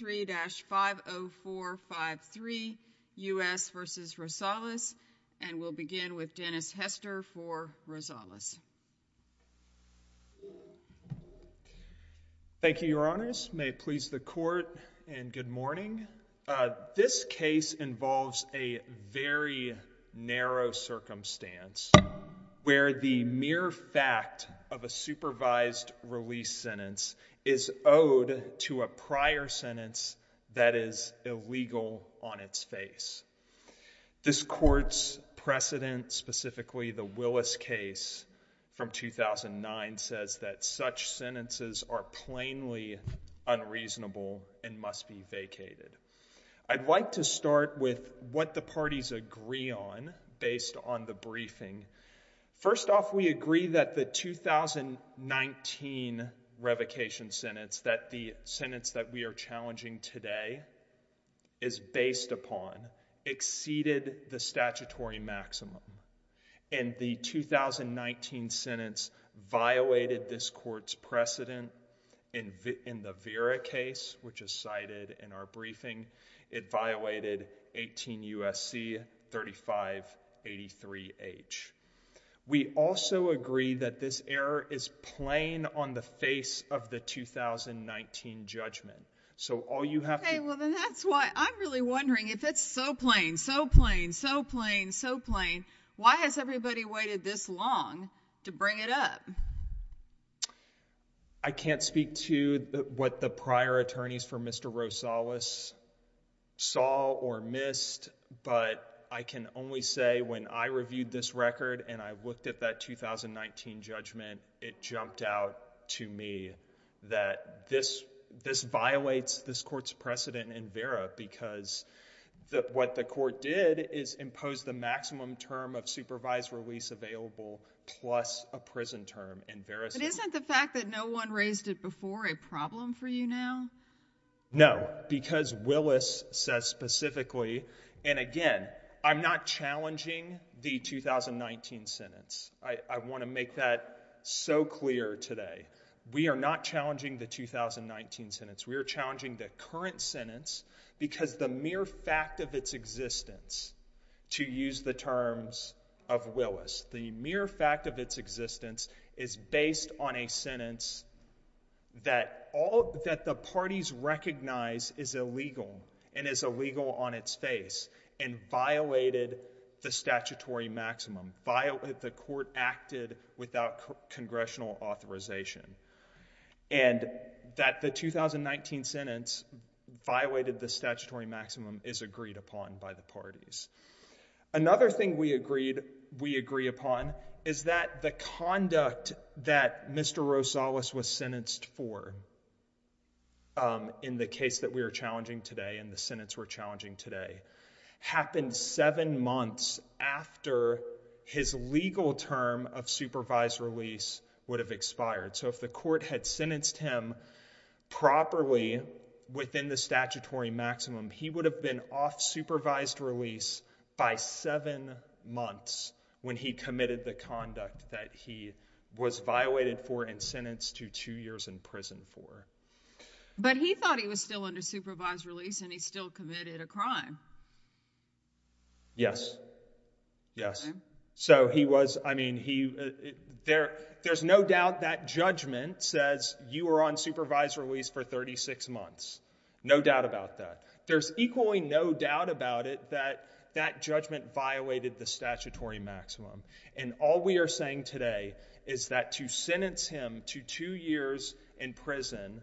3-50453 U.S. v. Rosales, and we'll begin with Dennis Hester for Rosales. Thank you, your honors. May it please the court and good morning. This case involves a very narrow circumstance where the mere fact of a supervised release sentence is owed to a prior sentence that is illegal on its face. This court's precedent, specifically the Willis case from 2009, says that such sentences are plainly unreasonable and must be vacated. I'd like to start with what the parties agree on based on the briefing. First off, we agree that the 2019 revocation sentence that the sentence that we are challenging today is based upon exceeded the statutory maximum, and the 2019 sentence violated this court's precedent. In the Vera case, which is cited in our briefing, it violated 18 U.S.C. 3583H. We also agree that this error is plain on the face of the 2019 judgment. Okay, well then that's why I'm really wondering if it's so plain, so plain, so plain, so plain, why has everybody waited this long to bring it up? I can't speak to what the prior attorneys for Mr. Rosales saw or missed, but I can only say when I reviewed this record and I looked at that 2019 judgment, it jumped out to me that this violates this court's precedent in Vera because what the court did is impose the maximum term of supervised release available plus a prison term in Vera's case. Isn't the fact that no one raised it before a problem for you now? No, because Willis says specifically, and again, I'm not challenging the 2019 sentence. I want to make that so clear today. We are not challenging the 2019 sentence. We are challenging the current sentence because the mere fact of its existence, to use the terms of Willis, the mere fact of its existence is based on a sentence that the parties recognize is illegal and is illegal on its face and violated the statutory maximum, the court acted without congressional authorization, and that the 2019 sentence violated the statutory maximum is agreed upon by the parties. Another thing we agree upon is that the conduct that Mr. Rosales was sentenced for in the case that we are challenging today and the sentence we're challenging today happened seven months after his legal term of supervised release would have expired. So if the court had sentenced him properly within the statutory maximum, he would have been off supervised release by seven months when he committed the conduct that he was violated for and sentenced to two years in prison for. But he thought he was still under supervised release and he still committed a crime. Yes, yes. So he was, I mean, there's no doubt that judgment says you were on supervised release for 36 months. No doubt about that. There's equally no doubt about it that that judgment violated the statutory maximum. And all we are saying today is that to sentence him to two years in prison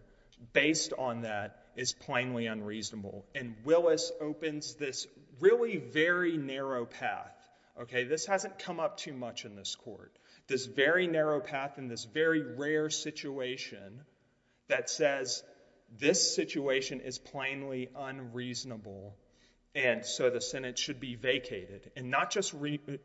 based on that is plainly unreasonable. And Willis opens this really very narrow path, okay? This hasn't come up too much in this court. This very narrow path in this very rare situation that says this situation is plainly unreasonable. And so the Senate should be vacated and not just remanded,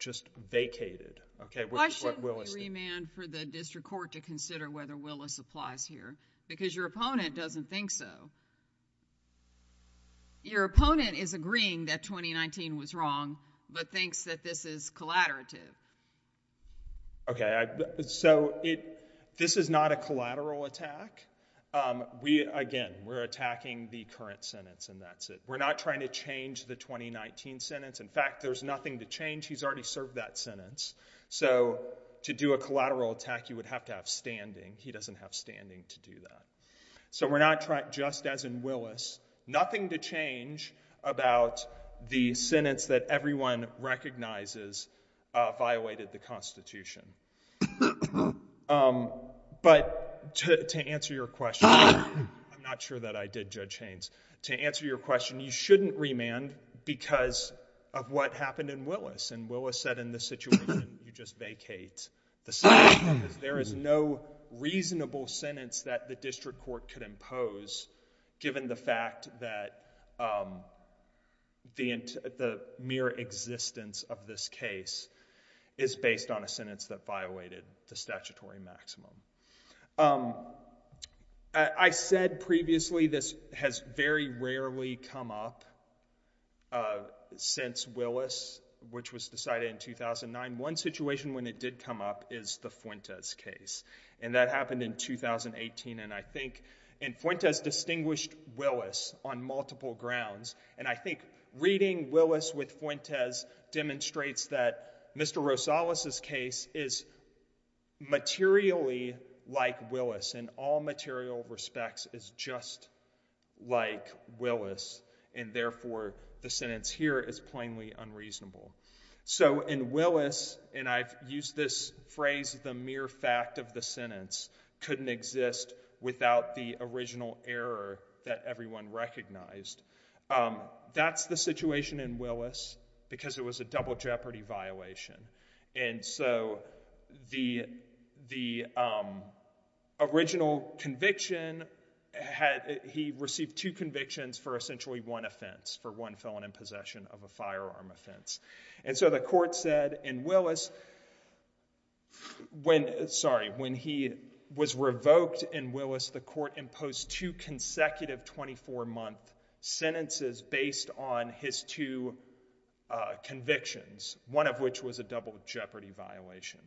just vacated, okay? Why shouldn't we remand for the district court to consider whether Willis applies here? Because your opponent doesn't think so. Your opponent is agreeing that 2019 was wrong, but thinks that this is collaterative. Okay, so it, this is not a collateral attack. We, again, we're attacking the current sentence and that's it. We're not trying to change the 2019 sentence. In fact, there's nothing to change. He's already served that sentence. So to do a collateral attack, you would have to have standing. He doesn't have standing to do that. So we're not trying, just as in Willis, nothing to change about the sentence that everyone recognizes violated the Constitution. But to answer your question, I'm not sure that I did, Judge Haynes. To answer your question, you shouldn't remand because of what happened in Willis. And Willis said in this situation, you just vacate the statute. There is no reasonable sentence that the district court could impose given the fact that the mere existence of this case is based on a sentence that violated the statutory maximum. I said previously, this has very rarely come up since Willis, which was decided in 2009. One situation when it did come up is the Fuentes case, and that happened in 2018. And I think, and Fuentes distinguished Willis on multiple grounds. And I think reading Willis with Fuentes demonstrates that Mr. Rosales' case is materially like Willis, in all material respects, is just like Willis. And therefore, the sentence here is plainly unreasonable. So in Willis, and I've used this phrase, the mere fact of the sentence couldn't exist without the original error that everyone recognized. That's the situation in Willis because it was a double jeopardy violation. And so the original conviction, he received two convictions for essentially one offense, for one felon in possession of a firearm offense. And so the court said in Willis, sorry, when he was revoked in Willis, the court imposed two consecutive 24-month sentences based on his two convictions, one of which was a double jeopardy violation.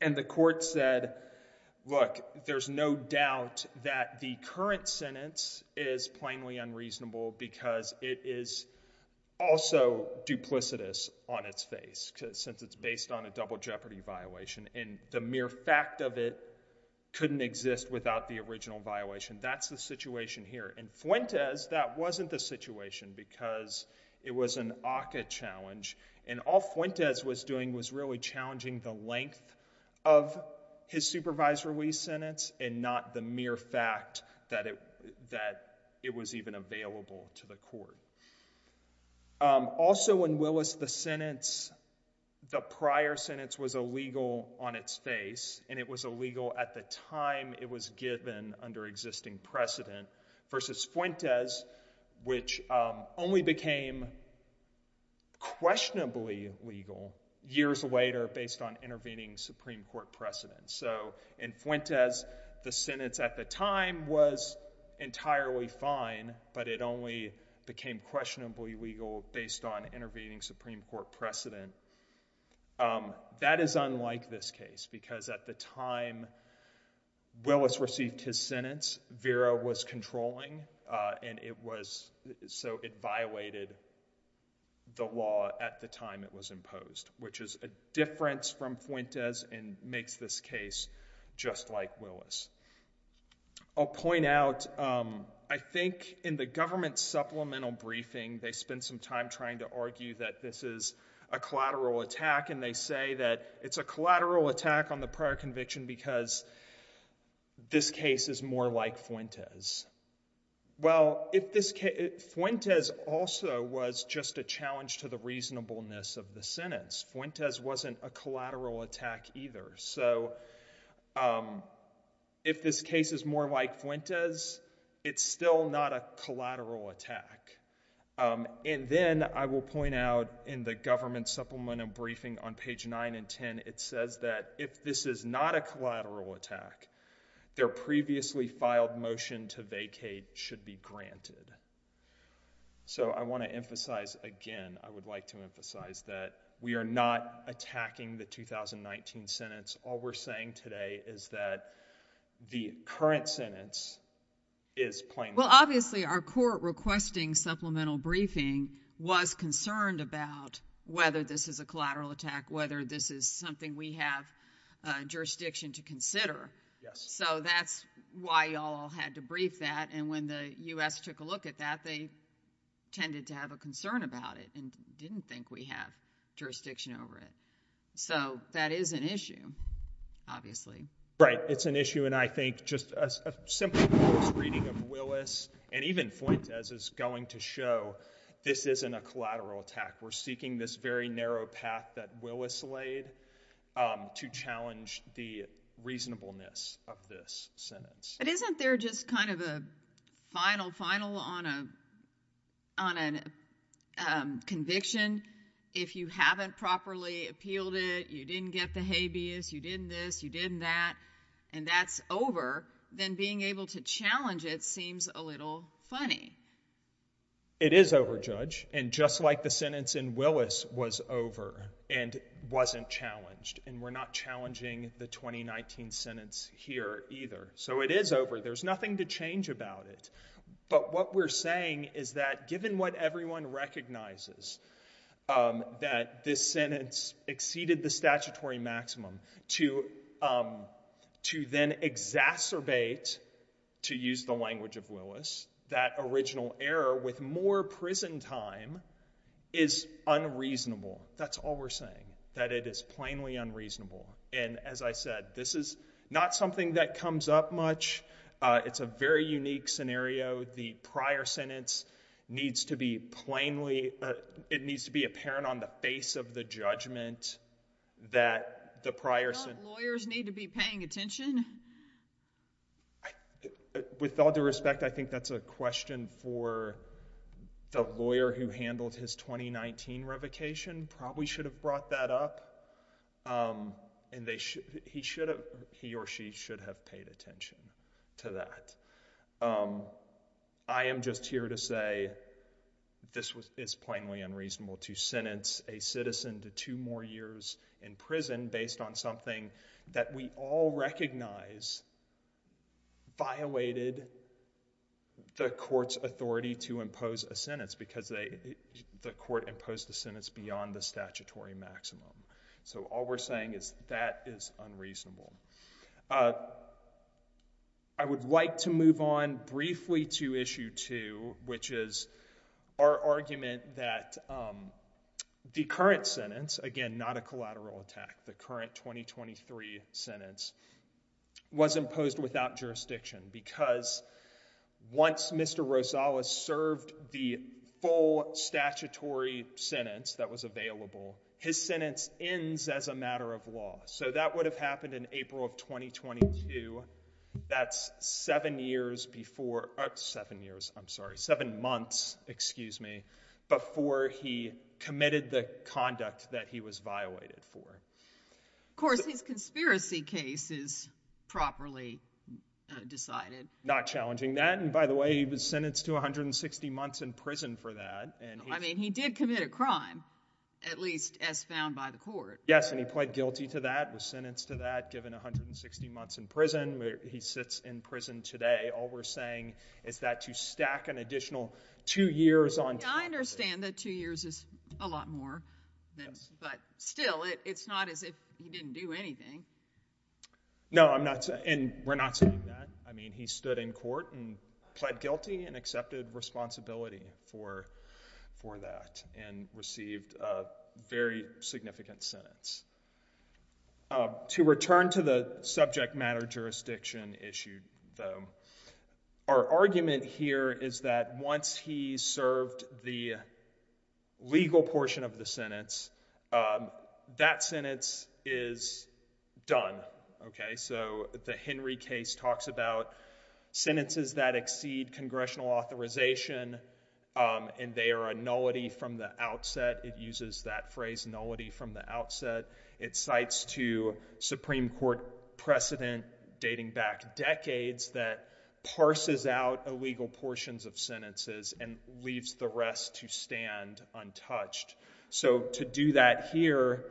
And the court said, look, there's no doubt that the current sentence is plainly unreasonable because it is also duplicitous on its face, since it's based on a double jeopardy violation. And the mere fact of it couldn't exist without the original violation. That's the situation here. In Fuentes, that wasn't the situation because it was an ACCA challenge. And all Fuentes was doing was really challenging the length of his supervised release sentence and not the mere fact that it was even available to the court. Also in Willis, the prior sentence was illegal on its face, and it was illegal at the time it was given under existing precedent versus Fuentes, which only became questionably legal years later based on intervening Supreme Court precedent. So in Fuentes, the sentence at the time was entirely fine, but it only became questionably legal based on intervening Supreme Court precedent. Um, that is unlike this case because at the time Willis received his sentence, Vera was controlling, uh, and it was, so it violated the law at the time it was imposed, which is a difference from Fuentes and makes this case just like Willis. I'll point out, um, I think in the government supplemental briefing, they spent some time trying to argue that this is a collateral attack, and they say that it's a collateral attack on the prior conviction because this case is more like Fuentes. Well, if this case, Fuentes also was just a challenge to the reasonableness of the sentence. Fuentes wasn't a collateral attack either. So, um, if this case is more like Fuentes, it's still not a collateral attack. Um, and then I will point out in the government supplemental briefing on page 9 and 10, it says that if this is not a collateral attack, their previously filed motion to vacate should be granted. So I want to emphasize again, I would like to emphasize that we are not attacking the 2019 sentence. All we're saying today is that the current sentence is plain. Well, obviously our court requesting supplemental briefing was concerned about whether this is a collateral attack, whether this is something we have, uh, jurisdiction to consider. Yes. So that's why y'all had to brief that. And when the U.S. took a look at that, they tended to have a concern about it and didn't think we have jurisdiction over it. So that is an issue, obviously. Right. It's an issue. And I think just a simple reading of Willis and even Fuentes is going to show this isn't a collateral attack. We're seeking this very narrow path that Willis laid, um, to challenge the reasonableness of this sentence. But isn't there just kind of a final, final on a, on a, um, conviction, if you haven't properly appealed it, you didn't get the habeas, you didn't this, you didn't that, and that's over, then being able to challenge it seems a little funny. It is over, Judge. And just like the sentence in Willis was over and wasn't challenged, and we're not challenging the 2019 sentence here either. So it is over. There's nothing to change about it. But what we're saying is that given what everyone recognizes, um, that this sentence exceeded the statutory maximum to, um, to then exacerbate, to use the language of Willis, that original error with more prison time is unreasonable. That's all we're saying, that it is plainly unreasonable. And as I said, this is not something that comes up much. Uh, it's a very unique scenario. The prior sentence needs to be plainly, uh, it needs to be apparent on the face of the judgment that the prior sentence... Don't lawyers need to be paying attention? With all due respect, I think that's a question for the lawyer who handled his 2019 revocation probably should have brought that up. Um, and they should, he should have, he or she should have paid attention to that. Um, I am just here to say this was, is plainly unreasonable to sentence a citizen to two more years in prison based on something that we all recognize violated the court's authority to impose a sentence because they, the court imposed the sentence beyond the statutory maximum. So all we're saying is that is unreasonable. Uh, I would like to move on briefly to issue two, which is our argument that, um, the current sentence, again, not a collateral attack, the current 2023 sentence was imposed without jurisdiction because once Mr. Rosales served the full statutory sentence that was his sentence ends as a matter of law. So that would have happened in April of 2022. That's seven years before, seven years, I'm sorry, seven months, excuse me, before he committed the conduct that he was violated for. Of course, his conspiracy case is properly decided. Not challenging that. And by the way, he was sentenced to 160 months in prison for that. I mean, he did commit a crime at least as found by the court. Yes. And he pled guilty to that was sentenced to that given 160 months in prison where he sits in prison today. All we're saying is that to stack an additional two years on, I understand that two years is a lot more than, but still it's not as if he didn't do anything. No, I'm not saying we're not saying that. I mean, he stood in court and pled guilty and accepted responsibility for that and received a very significant sentence. To return to the subject matter jurisdiction issue though, our argument here is that once he served the legal portion of the sentence, that sentence is done. Okay. So the Henry case talks about sentences that exceed congressional authorization, and they are a nullity from the outset. It uses that phrase, nullity from the outset. It cites to Supreme Court precedent dating back decades that parses out illegal portions of sentences and leaves the rest to stand untouched. So to do that here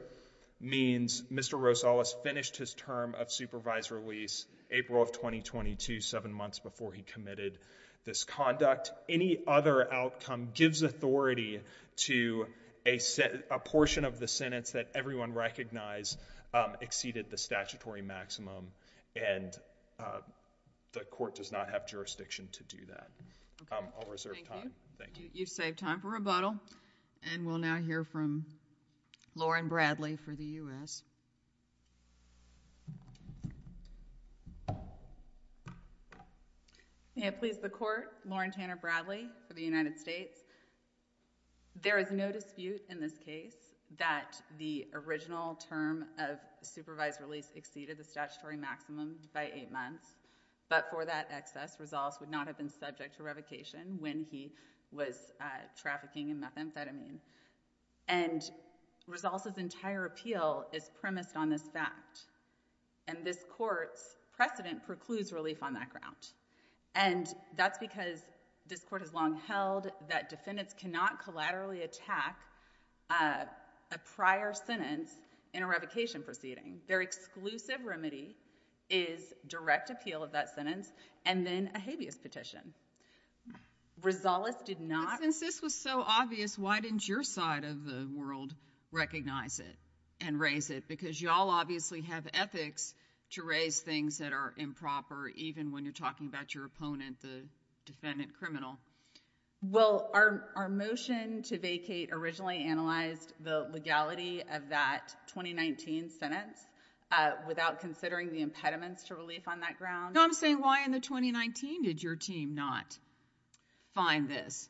means Mr. Rosales finished his term of supervisor release, April of 2022, seven months before he committed this conduct. Any other outcome gives authority to a portion of the sentence that everyone recognized exceeded the statutory maximum, and the court does not have jurisdiction to do that. I'll reserve time. Thank you. You've saved time for rebuttal, and we'll now hear from Lauren Bradley for the U.S. May it please the court, Lauren Tanner Bradley for the United States. There is no dispute in this case that the original term of supervised release exceeded the statutory maximum by eight months, but for that excess, Rosales would not have been subject to revocation when he was trafficking in methamphetamine. And Rosales' entire appeal is premised on this fact, and this court's precedent precludes relief on that ground. And that's because this court has long held that defendants cannot collaterally attack a prior sentence in a revocation proceeding. Their exclusive remedy is direct appeal of that sentence and then a habeas petition. Rosales did not— But since this was so obvious, why didn't your side of the world recognize it and raise it? Because y'all obviously have ethics to raise things that are improper, even when you're talking about your opponent, the defendant criminal. Well, our motion to vacate originally analyzed the legality of that 2019 sentence without considering the impediments to relief on that ground. No, I'm saying why in the 2019 did your team not find this?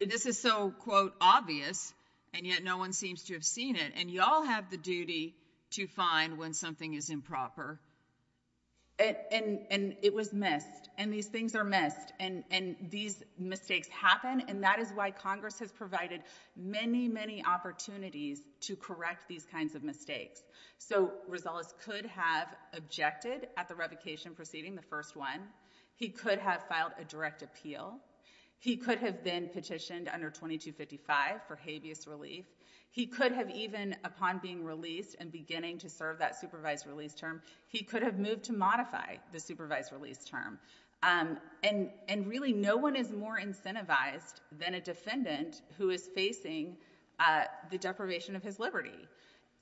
This is so, quote, obvious, and yet no one seems to have seen it, and y'all have the duty to find when something is improper. And it was missed, and these things are missed, and these mistakes happen, and that is why Congress has provided many, many opportunities to correct these kinds of mistakes. So Rosales could have objected at the revocation proceeding, the first one. He could have filed a direct appeal. He could have been petitioned under 2255 for habeas relief. He could have even, upon being released and beginning to serve that supervised release term, he could have moved to modify the supervised release term. And really, no one is more incentivized than a defendant who is facing the deprivation of his liberty.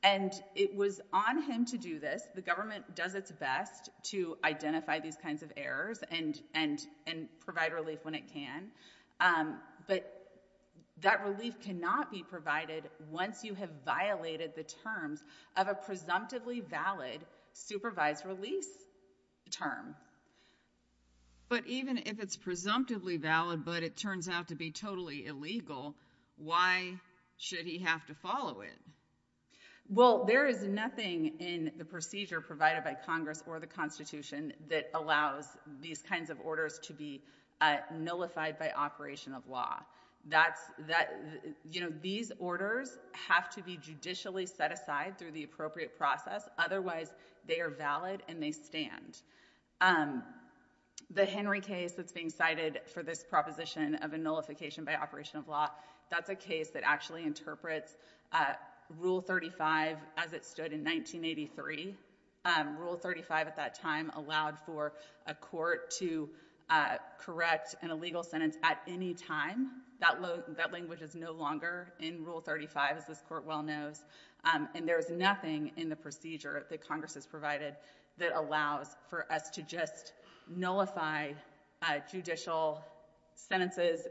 And it was on him to do this. The government does its best to identify these kinds of errors and provide relief when it can, but that relief cannot be provided once you have violated the terms of a presumptively valid supervised release term. But even if it's presumptively valid, but it turns out to be totally illegal, why should he have to follow it? Well, there is nothing in the procedure provided by Congress or the Constitution that allows these kinds of orders to be nullified by operation of law. That's, that, you know, these orders have to be judicially set aside through the appropriate process. Otherwise, they are valid and they stand. The Henry case that's being cited for this proposition of a nullification by operation of law, that's a case that actually interprets Rule 35 as it stood in 1983. Rule 35 at that time allowed for a court to correct an illegal sentence at any time. That language is no longer in Rule 35, as this court well knows. And there is nothing in the procedure that Congress has provided that allows for us to just nullify judicial sentences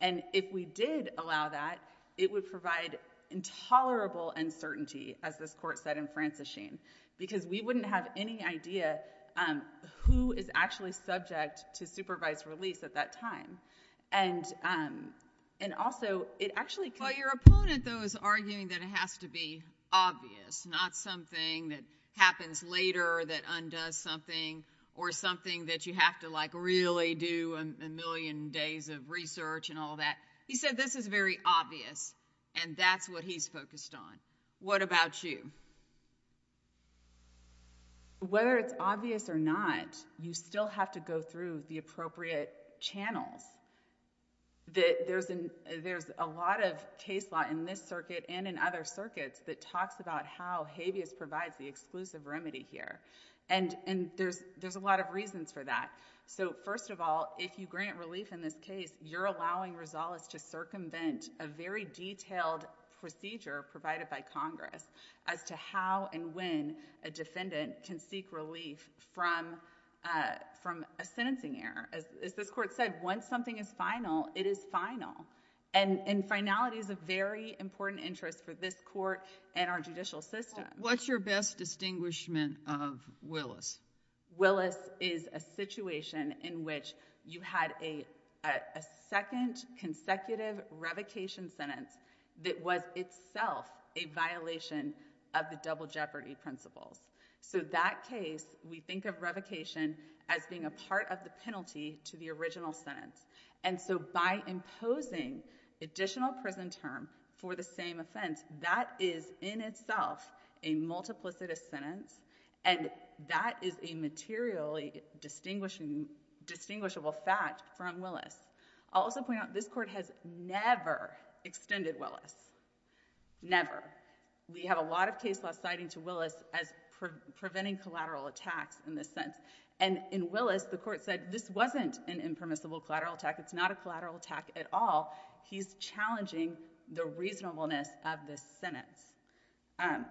and if we did allow that, it would provide intolerable uncertainty, as this court said in Franciscane, because we wouldn't have any idea who is actually subject to supervised release at that time. And, um, and also, it actually— Well, your opponent though is arguing that it has to be obvious, not something that happens later that undoes something or something that you have to like really do a million days of research and all that. He said this is very obvious and that's what he's focused on. What about you? Whether it's obvious or not, you still have to go through the appropriate channels. That there's an, there's a lot of case law in this circuit and in other circuits that talks about how habeas provides the exclusive remedy here. And, and there's, there's a lot of reasons for that. So first of all, if you grant relief in this case, you're allowing Rosales to circumvent a very detailed procedure provided by Congress as to how and when a defendant can seek relief from, uh, from a sentencing error. As this court said, once something is final, it is final. And, and finality is a very important interest for this court and our judicial system. What's your best distinguishment of Willis? Willis is a situation in which you had a, a second consecutive revocation sentence that was itself a violation of the double jeopardy principles. So that case, we think of revocation as being a part of the penalty to the original sentence. And so by imposing additional prison term for the same offense, that is in itself a multiplicitous sentence and that is a materially distinguishing, distinguishable fact from Willis. I'll also point out this court has never extended Willis. Never. We have a lot of case law citing to Willis as preventing collateral attacks in this case. And in Willis, the court said this wasn't an impermissible collateral attack. It's not a collateral attack at all. He's challenging the reasonableness of this sentence. Um,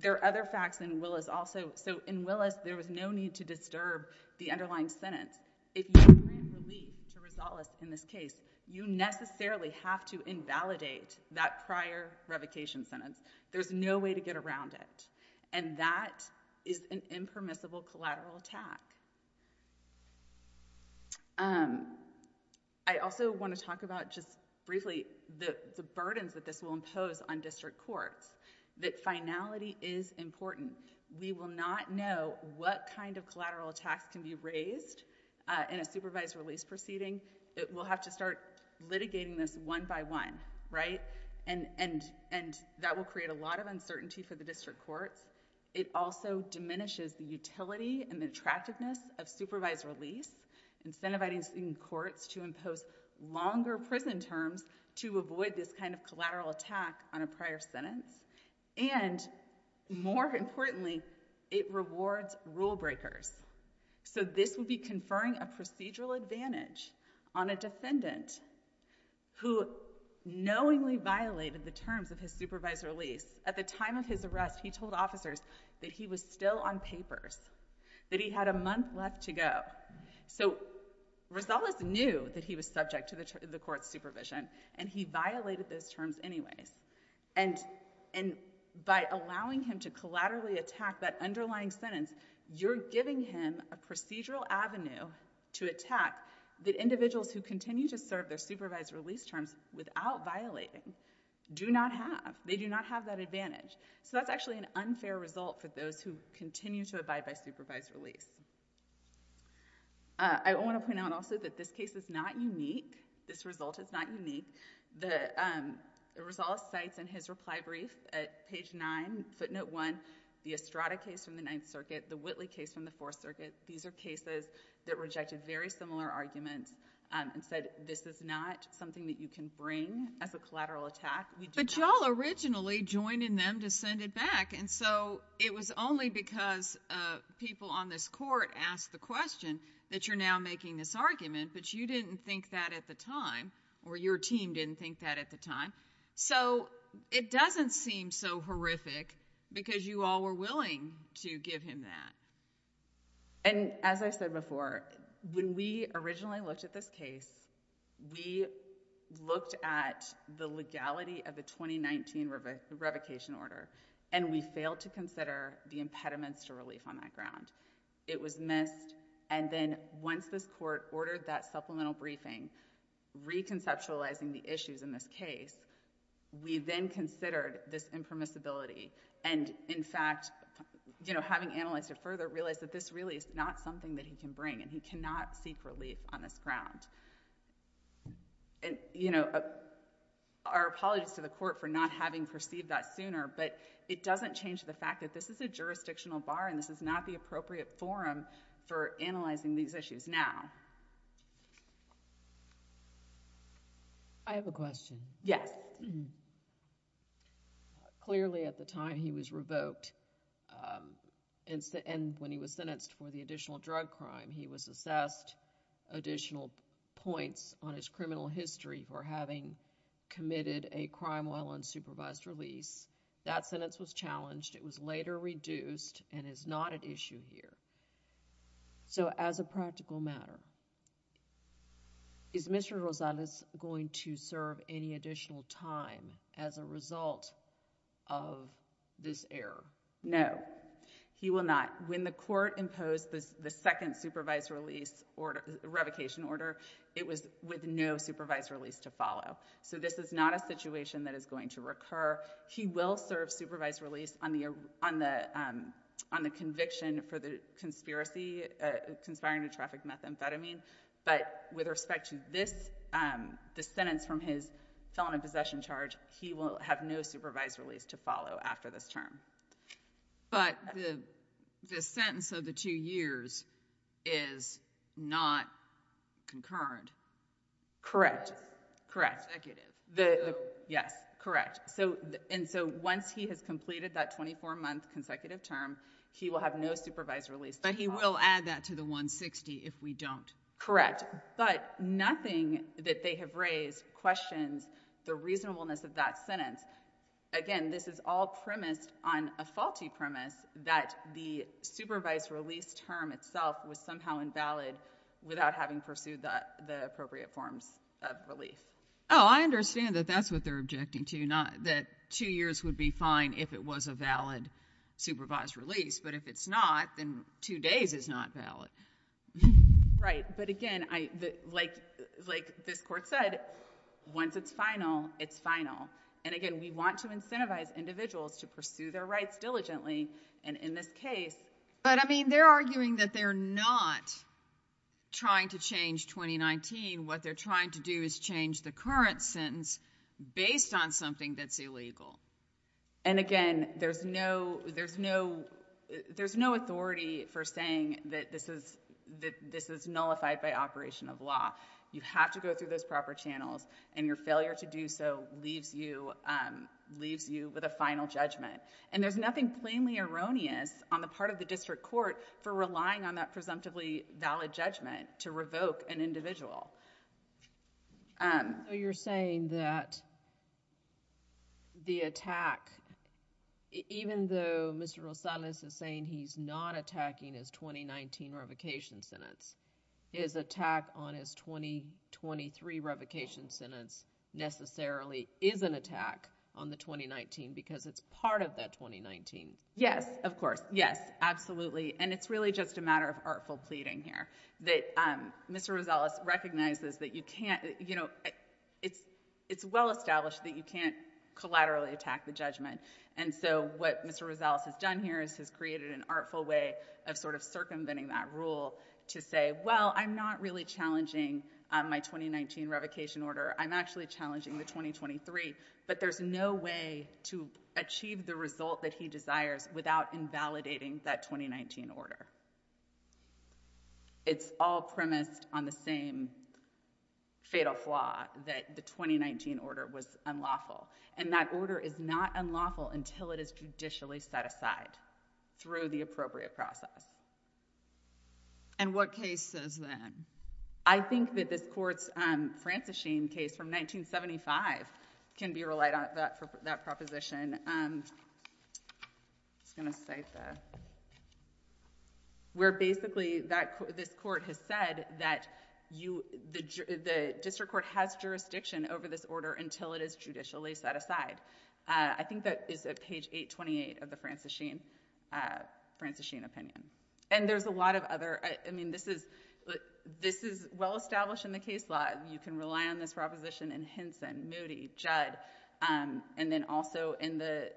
there are other facts in Willis also. So in Willis, there was no need to disturb the underlying sentence. If you grant relief to Rosales in this case, you necessarily have to invalidate that prior revocation sentence. There's no way to get around it. And that is an impermissible collateral attack. Um, I also want to talk about just briefly the, the burdens that this will impose on district courts. That finality is important. We will not know what kind of collateral attacks can be raised, uh, in a supervised release proceeding. We'll have to start litigating this one by one, right? And, and, and that will create a lot of uncertainty for the district courts. It also diminishes the utility and the attractiveness of supervised release, incentivizing courts to impose longer prison terms to avoid this kind of collateral attack on a prior sentence. And more importantly, it rewards rule breakers. So this would be Rosales, who knowingly violated the terms of his supervised release. At the time of his arrest, he told officers that he was still on papers, that he had a month left to go. So Rosales knew that he was subject to the court's supervision and he violated those terms anyways. And, and by allowing him to collaterally attack that underlying sentence, you're giving him a procedural avenue to attack the individuals who continue to serve their supervised release terms without violating, do not have, they do not have that advantage. So that's actually an unfair result for those who continue to abide by supervised release. Uh, I want to point out also that this case is not unique. This result is not unique. The, um, Rosales cites in his reply brief at page nine, footnote one, the Estrada case from the Ninth Circuit, the Whitley case from the case that is, that rejected very similar arguments, um, and said, this is not something that you can bring as a collateral attack. But y'all originally joined in them to send it back. And so it was only because, uh, people on this court asked the question that you're now making this argument, but you didn't think that at the time or your team didn't think that at the time. So it doesn't seem so horrific because you all were willing to give him that. And as I said before, when we originally looked at this case, we looked at the legality of the 2019 rev, revocation order, and we failed to consider the impediments to relief on that ground. It was missed. And then once this court ordered that supplemental briefing, reconceptualizing the issues in this case, we then considered this impermissibility. And in fact, you know, having analyzed it further, realized that this really is not something that he can bring and he cannot seek relief on this ground. And you know, our apologies to the court for not having perceived that sooner, but it doesn't change the fact that this is a jurisdictional bar and this is not the appropriate forum for analyzing these issues now. I have a question. Yes. Clearly at the time he was revoked and when he was sentenced for the additional drug crime, he was assessed additional points on his criminal history for having committed a crime while on supervised release. That sentence was challenged. It was later reduced and is not an issue here. So as a practical matter, is Mr. Rosales going to serve any additional time as a result of this error? No, he will not. When the court imposed the second supervised release order, revocation order, it was with no supervised release to follow. So this is not a situation that is going to recur. He will serve supervised release on the conviction for the conspiracy, conspiring to traffic methamphetamine. But with respect to this, the sentence from his felon in possession charge, he will have no supervised release to follow after this term. But the sentence of the two years is not concurrent. Correct. Correct. Yes. Correct. And so once he has completed that 24 month consecutive term, he will have no supervised release. But he will add that to the 160 if we don't. Correct. But nothing that they have raised questions the reasonableness of that sentence. Again, this is all premised on a faulty premise that the supervised release term itself was invalid without having pursued the appropriate forms of relief. Oh, I understand that that's what they're objecting to, that two years would be fine if it was a valid supervised release. But if it's not, then two days is not valid. Right. But again, like this court said, once it's final, it's final. And again, we want to incentivize individuals to pursue their rights diligently. And in this case, but I mean, they're arguing that they're not trying to change 2019. What they're trying to do is change the current sentence based on something that's illegal. And again, there's no authority for saying that this is nullified by operation of law. You have to go through those proper channels and your failure to do so leaves you with a final judgment. And there's nothing plainly erroneous on the part of the district court for relying on that presumptively valid judgment to revoke an individual. You're saying that the attack, even though Mr. Rosales is saying he's not attacking his 2019 revocation sentence, his attack on his 2023 revocation sentence necessarily is an attack on the 2019 because it's part of that 2019. Yes, of course. Yes, absolutely. And it's really just a matter of artful pleading here that Mr. Rosales recognizes that you can't, you know, it's well established that you can't collaterally attack the judgment. And so what Mr. Rosales has done here is he's created an artful way of sort of circumventing that rule to say, well, I'm not really challenging my 2019 revocation order. I'm actually challenging the 2023, but there's no way to achieve the result that he desires without invalidating that 2019 order. It's all premised on the same fatal flaw that the 2019 order was unlawful. And that order is not unlawful until it is judicially set aside through the appropriate process. And what case says that? I think that this court's Franciscine case from 1975 can be relied on that proposition. I'm just going to cite that. Where basically this court has said that the district court has jurisdiction over this order until it is judicially set aside. I think that is at page 828 of the Franciscine opinion. And there's a lot of other, I mean, this is well established in the case law. You can rely on this proposition in Henson, Moody, Judd, and then also in the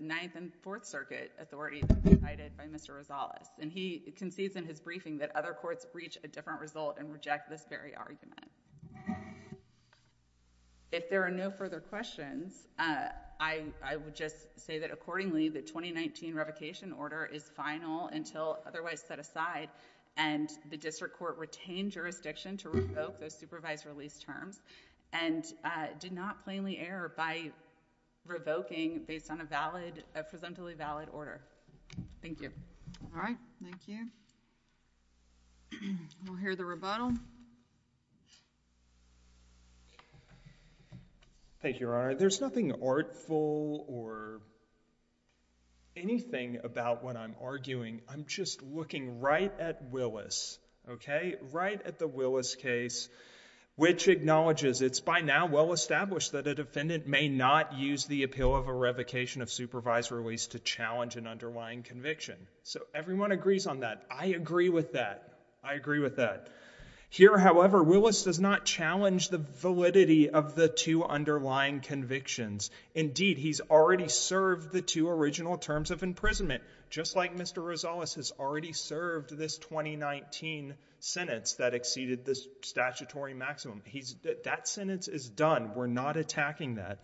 Ninth and Fourth Circuit authorities provided by Mr. Rosales. And he concedes in his briefing that other courts reach a different result and reject this very argument. If there are no further questions, I would just say that accordingly the 2019 revocation order is final until otherwise set aside and the district court retained jurisdiction to revoke those supervised release terms and did not plainly error by revoking based on a valid, a presumptively valid order. Thank you. All right. Thank you. We'll hear the rebuttal. Thank you, Your Honor. There's nothing artful or anything about what I'm arguing. I'm just looking right at Willis, okay? Right at the Willis case, which acknowledges it's by now well established that a defendant may not use the appeal of a revocation of supervised release to challenge an underlying conviction. So everyone agrees on that. I agree with that. I agree with that. Here, however, Willis does not challenge the validity of the two underlying convictions. Indeed, he's already served the two original terms of imprisonment, just like Mr. Rosales has already served this 2019 sentence that exceeded the statutory maximum. That sentence is done. We're not attacking that.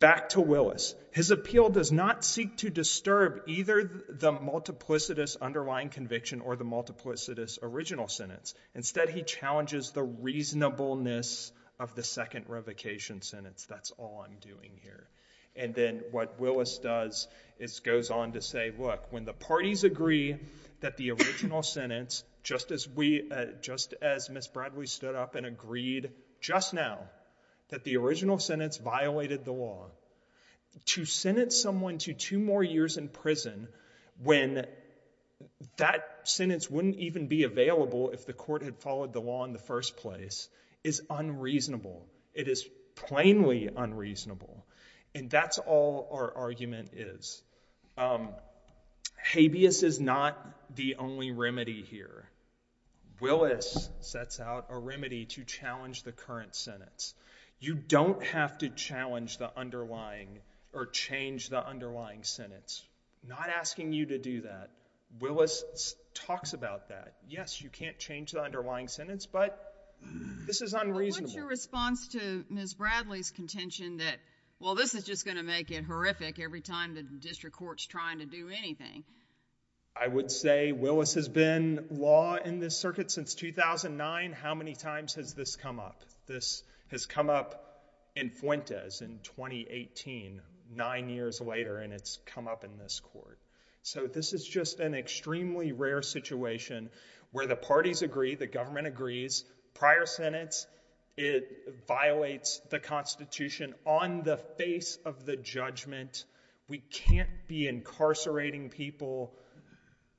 Back to Willis. His appeal does not seek to disturb either the multiplicitous underlying conviction or the multiplicitous original sentence. Instead, he challenges the reasonableness of the second revocation sentence. That's all I'm doing here. And then what Willis does is goes on to say, look, when the parties agree that the original sentence, just as we, just as Ms. Bradley stood up and agreed just now that the original sentence violated the law, to sentence someone to two more years in prison when that sentence wouldn't even be available if the court had followed the law in the first place is unreasonable. It is plainly unreasonable. And that's all our argument is. Habeas is not the only remedy here. Willis sets out a remedy to challenge the current sentence. You don't have to challenge the underlying or change the underlying sentence. Not asking you to do that. Willis talks about that. Yes, you can't change the underlying sentence, but this is unreasonable. What's your response to Ms. Bradley's contention that, well, this is just going to make it horrific every time the district court's trying to do anything? I would say Willis has been law in this circuit since 2009. How many times has this come up? This has come up in Fuentes in 2018, nine years later, and it's come up in this court. So this is just an extremely rare situation where the parties agree, the government agrees, prior it violates the Constitution on the face of the judgment. We can't be incarcerating people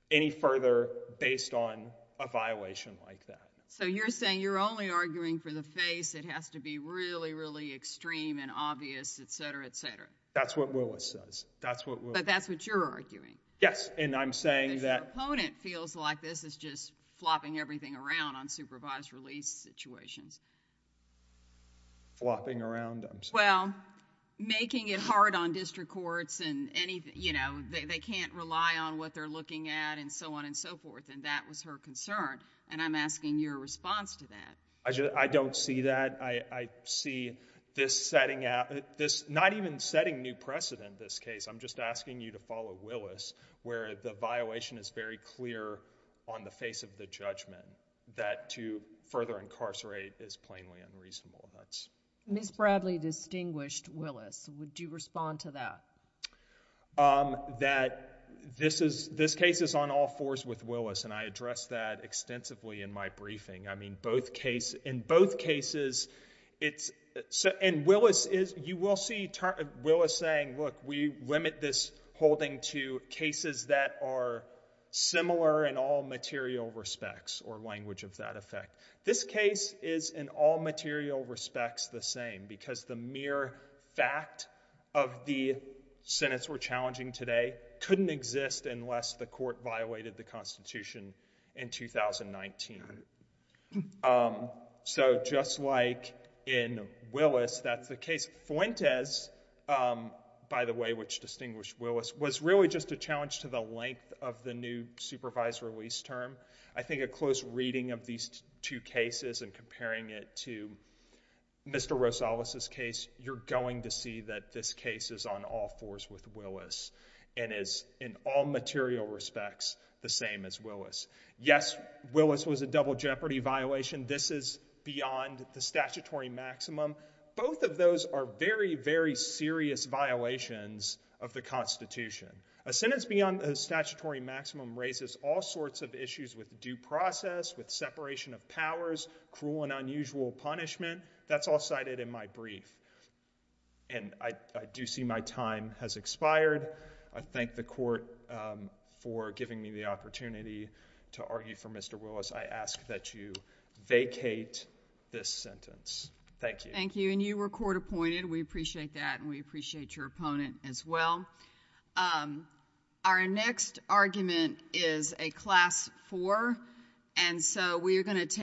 any further based on a violation like that. So you're saying you're only arguing for the face. It has to be really, really extreme and obvious, et cetera, et cetera. That's what Willis says. That's what Willis... But that's what you're arguing. Yes, and I'm saying that... Opponent feels like this is just flopping everything around on supervised release situations. Flopping around, I'm sorry. Well, making it hard on district courts and anything. They can't rely on what they're looking at and so on and so forth, and that was her concern, and I'm asking your response to that. I don't see that. I see this setting out... Not even setting new precedent, this case. I'm just asking you to follow Willis where the violation is very clear on the face of the judgment that to further incarcerate is plainly unreasonable. Ms. Bradley distinguished Willis. Would you respond to that? That this case is on all fours with Willis, and I addressed that extensively in my briefing. Both cases... In both cases, it's... And Willis is... You will see Willis saying, look, we limit this holding to cases that are similar in all material respects or language of that effect. This case is in all material respects the same because the mere fact of the sentence we're challenging today couldn't exist unless the court violated the Constitution in 2019. Um, so just like in Willis, that's the case... Fuentes, by the way, which distinguished Willis, was really just a challenge to the length of the new supervised release term. I think a close reading of these two cases and comparing it to Mr. Rosales' case, you're going to see that this case is on all fours with Willis and is in all material respects the same as Willis. Yes, Willis was a double jeopardy violation. This is beyond the statutory maximum. Both of those are very, very serious violations of the Constitution. A sentence beyond the statutory maximum raises all sorts of issues with due process, with separation of powers, cruel and unusual punishment. That's all cited in my brief. And I do see my time has expired. I thank the court, um, for giving me the opportunity to argue for Mr. Willis. I ask that you vacate this sentence. Thank you. Thank you. And you were court appointed. We appreciate that and we appreciate your opponent as well. Um, our next argument is a class four and so we are going to take...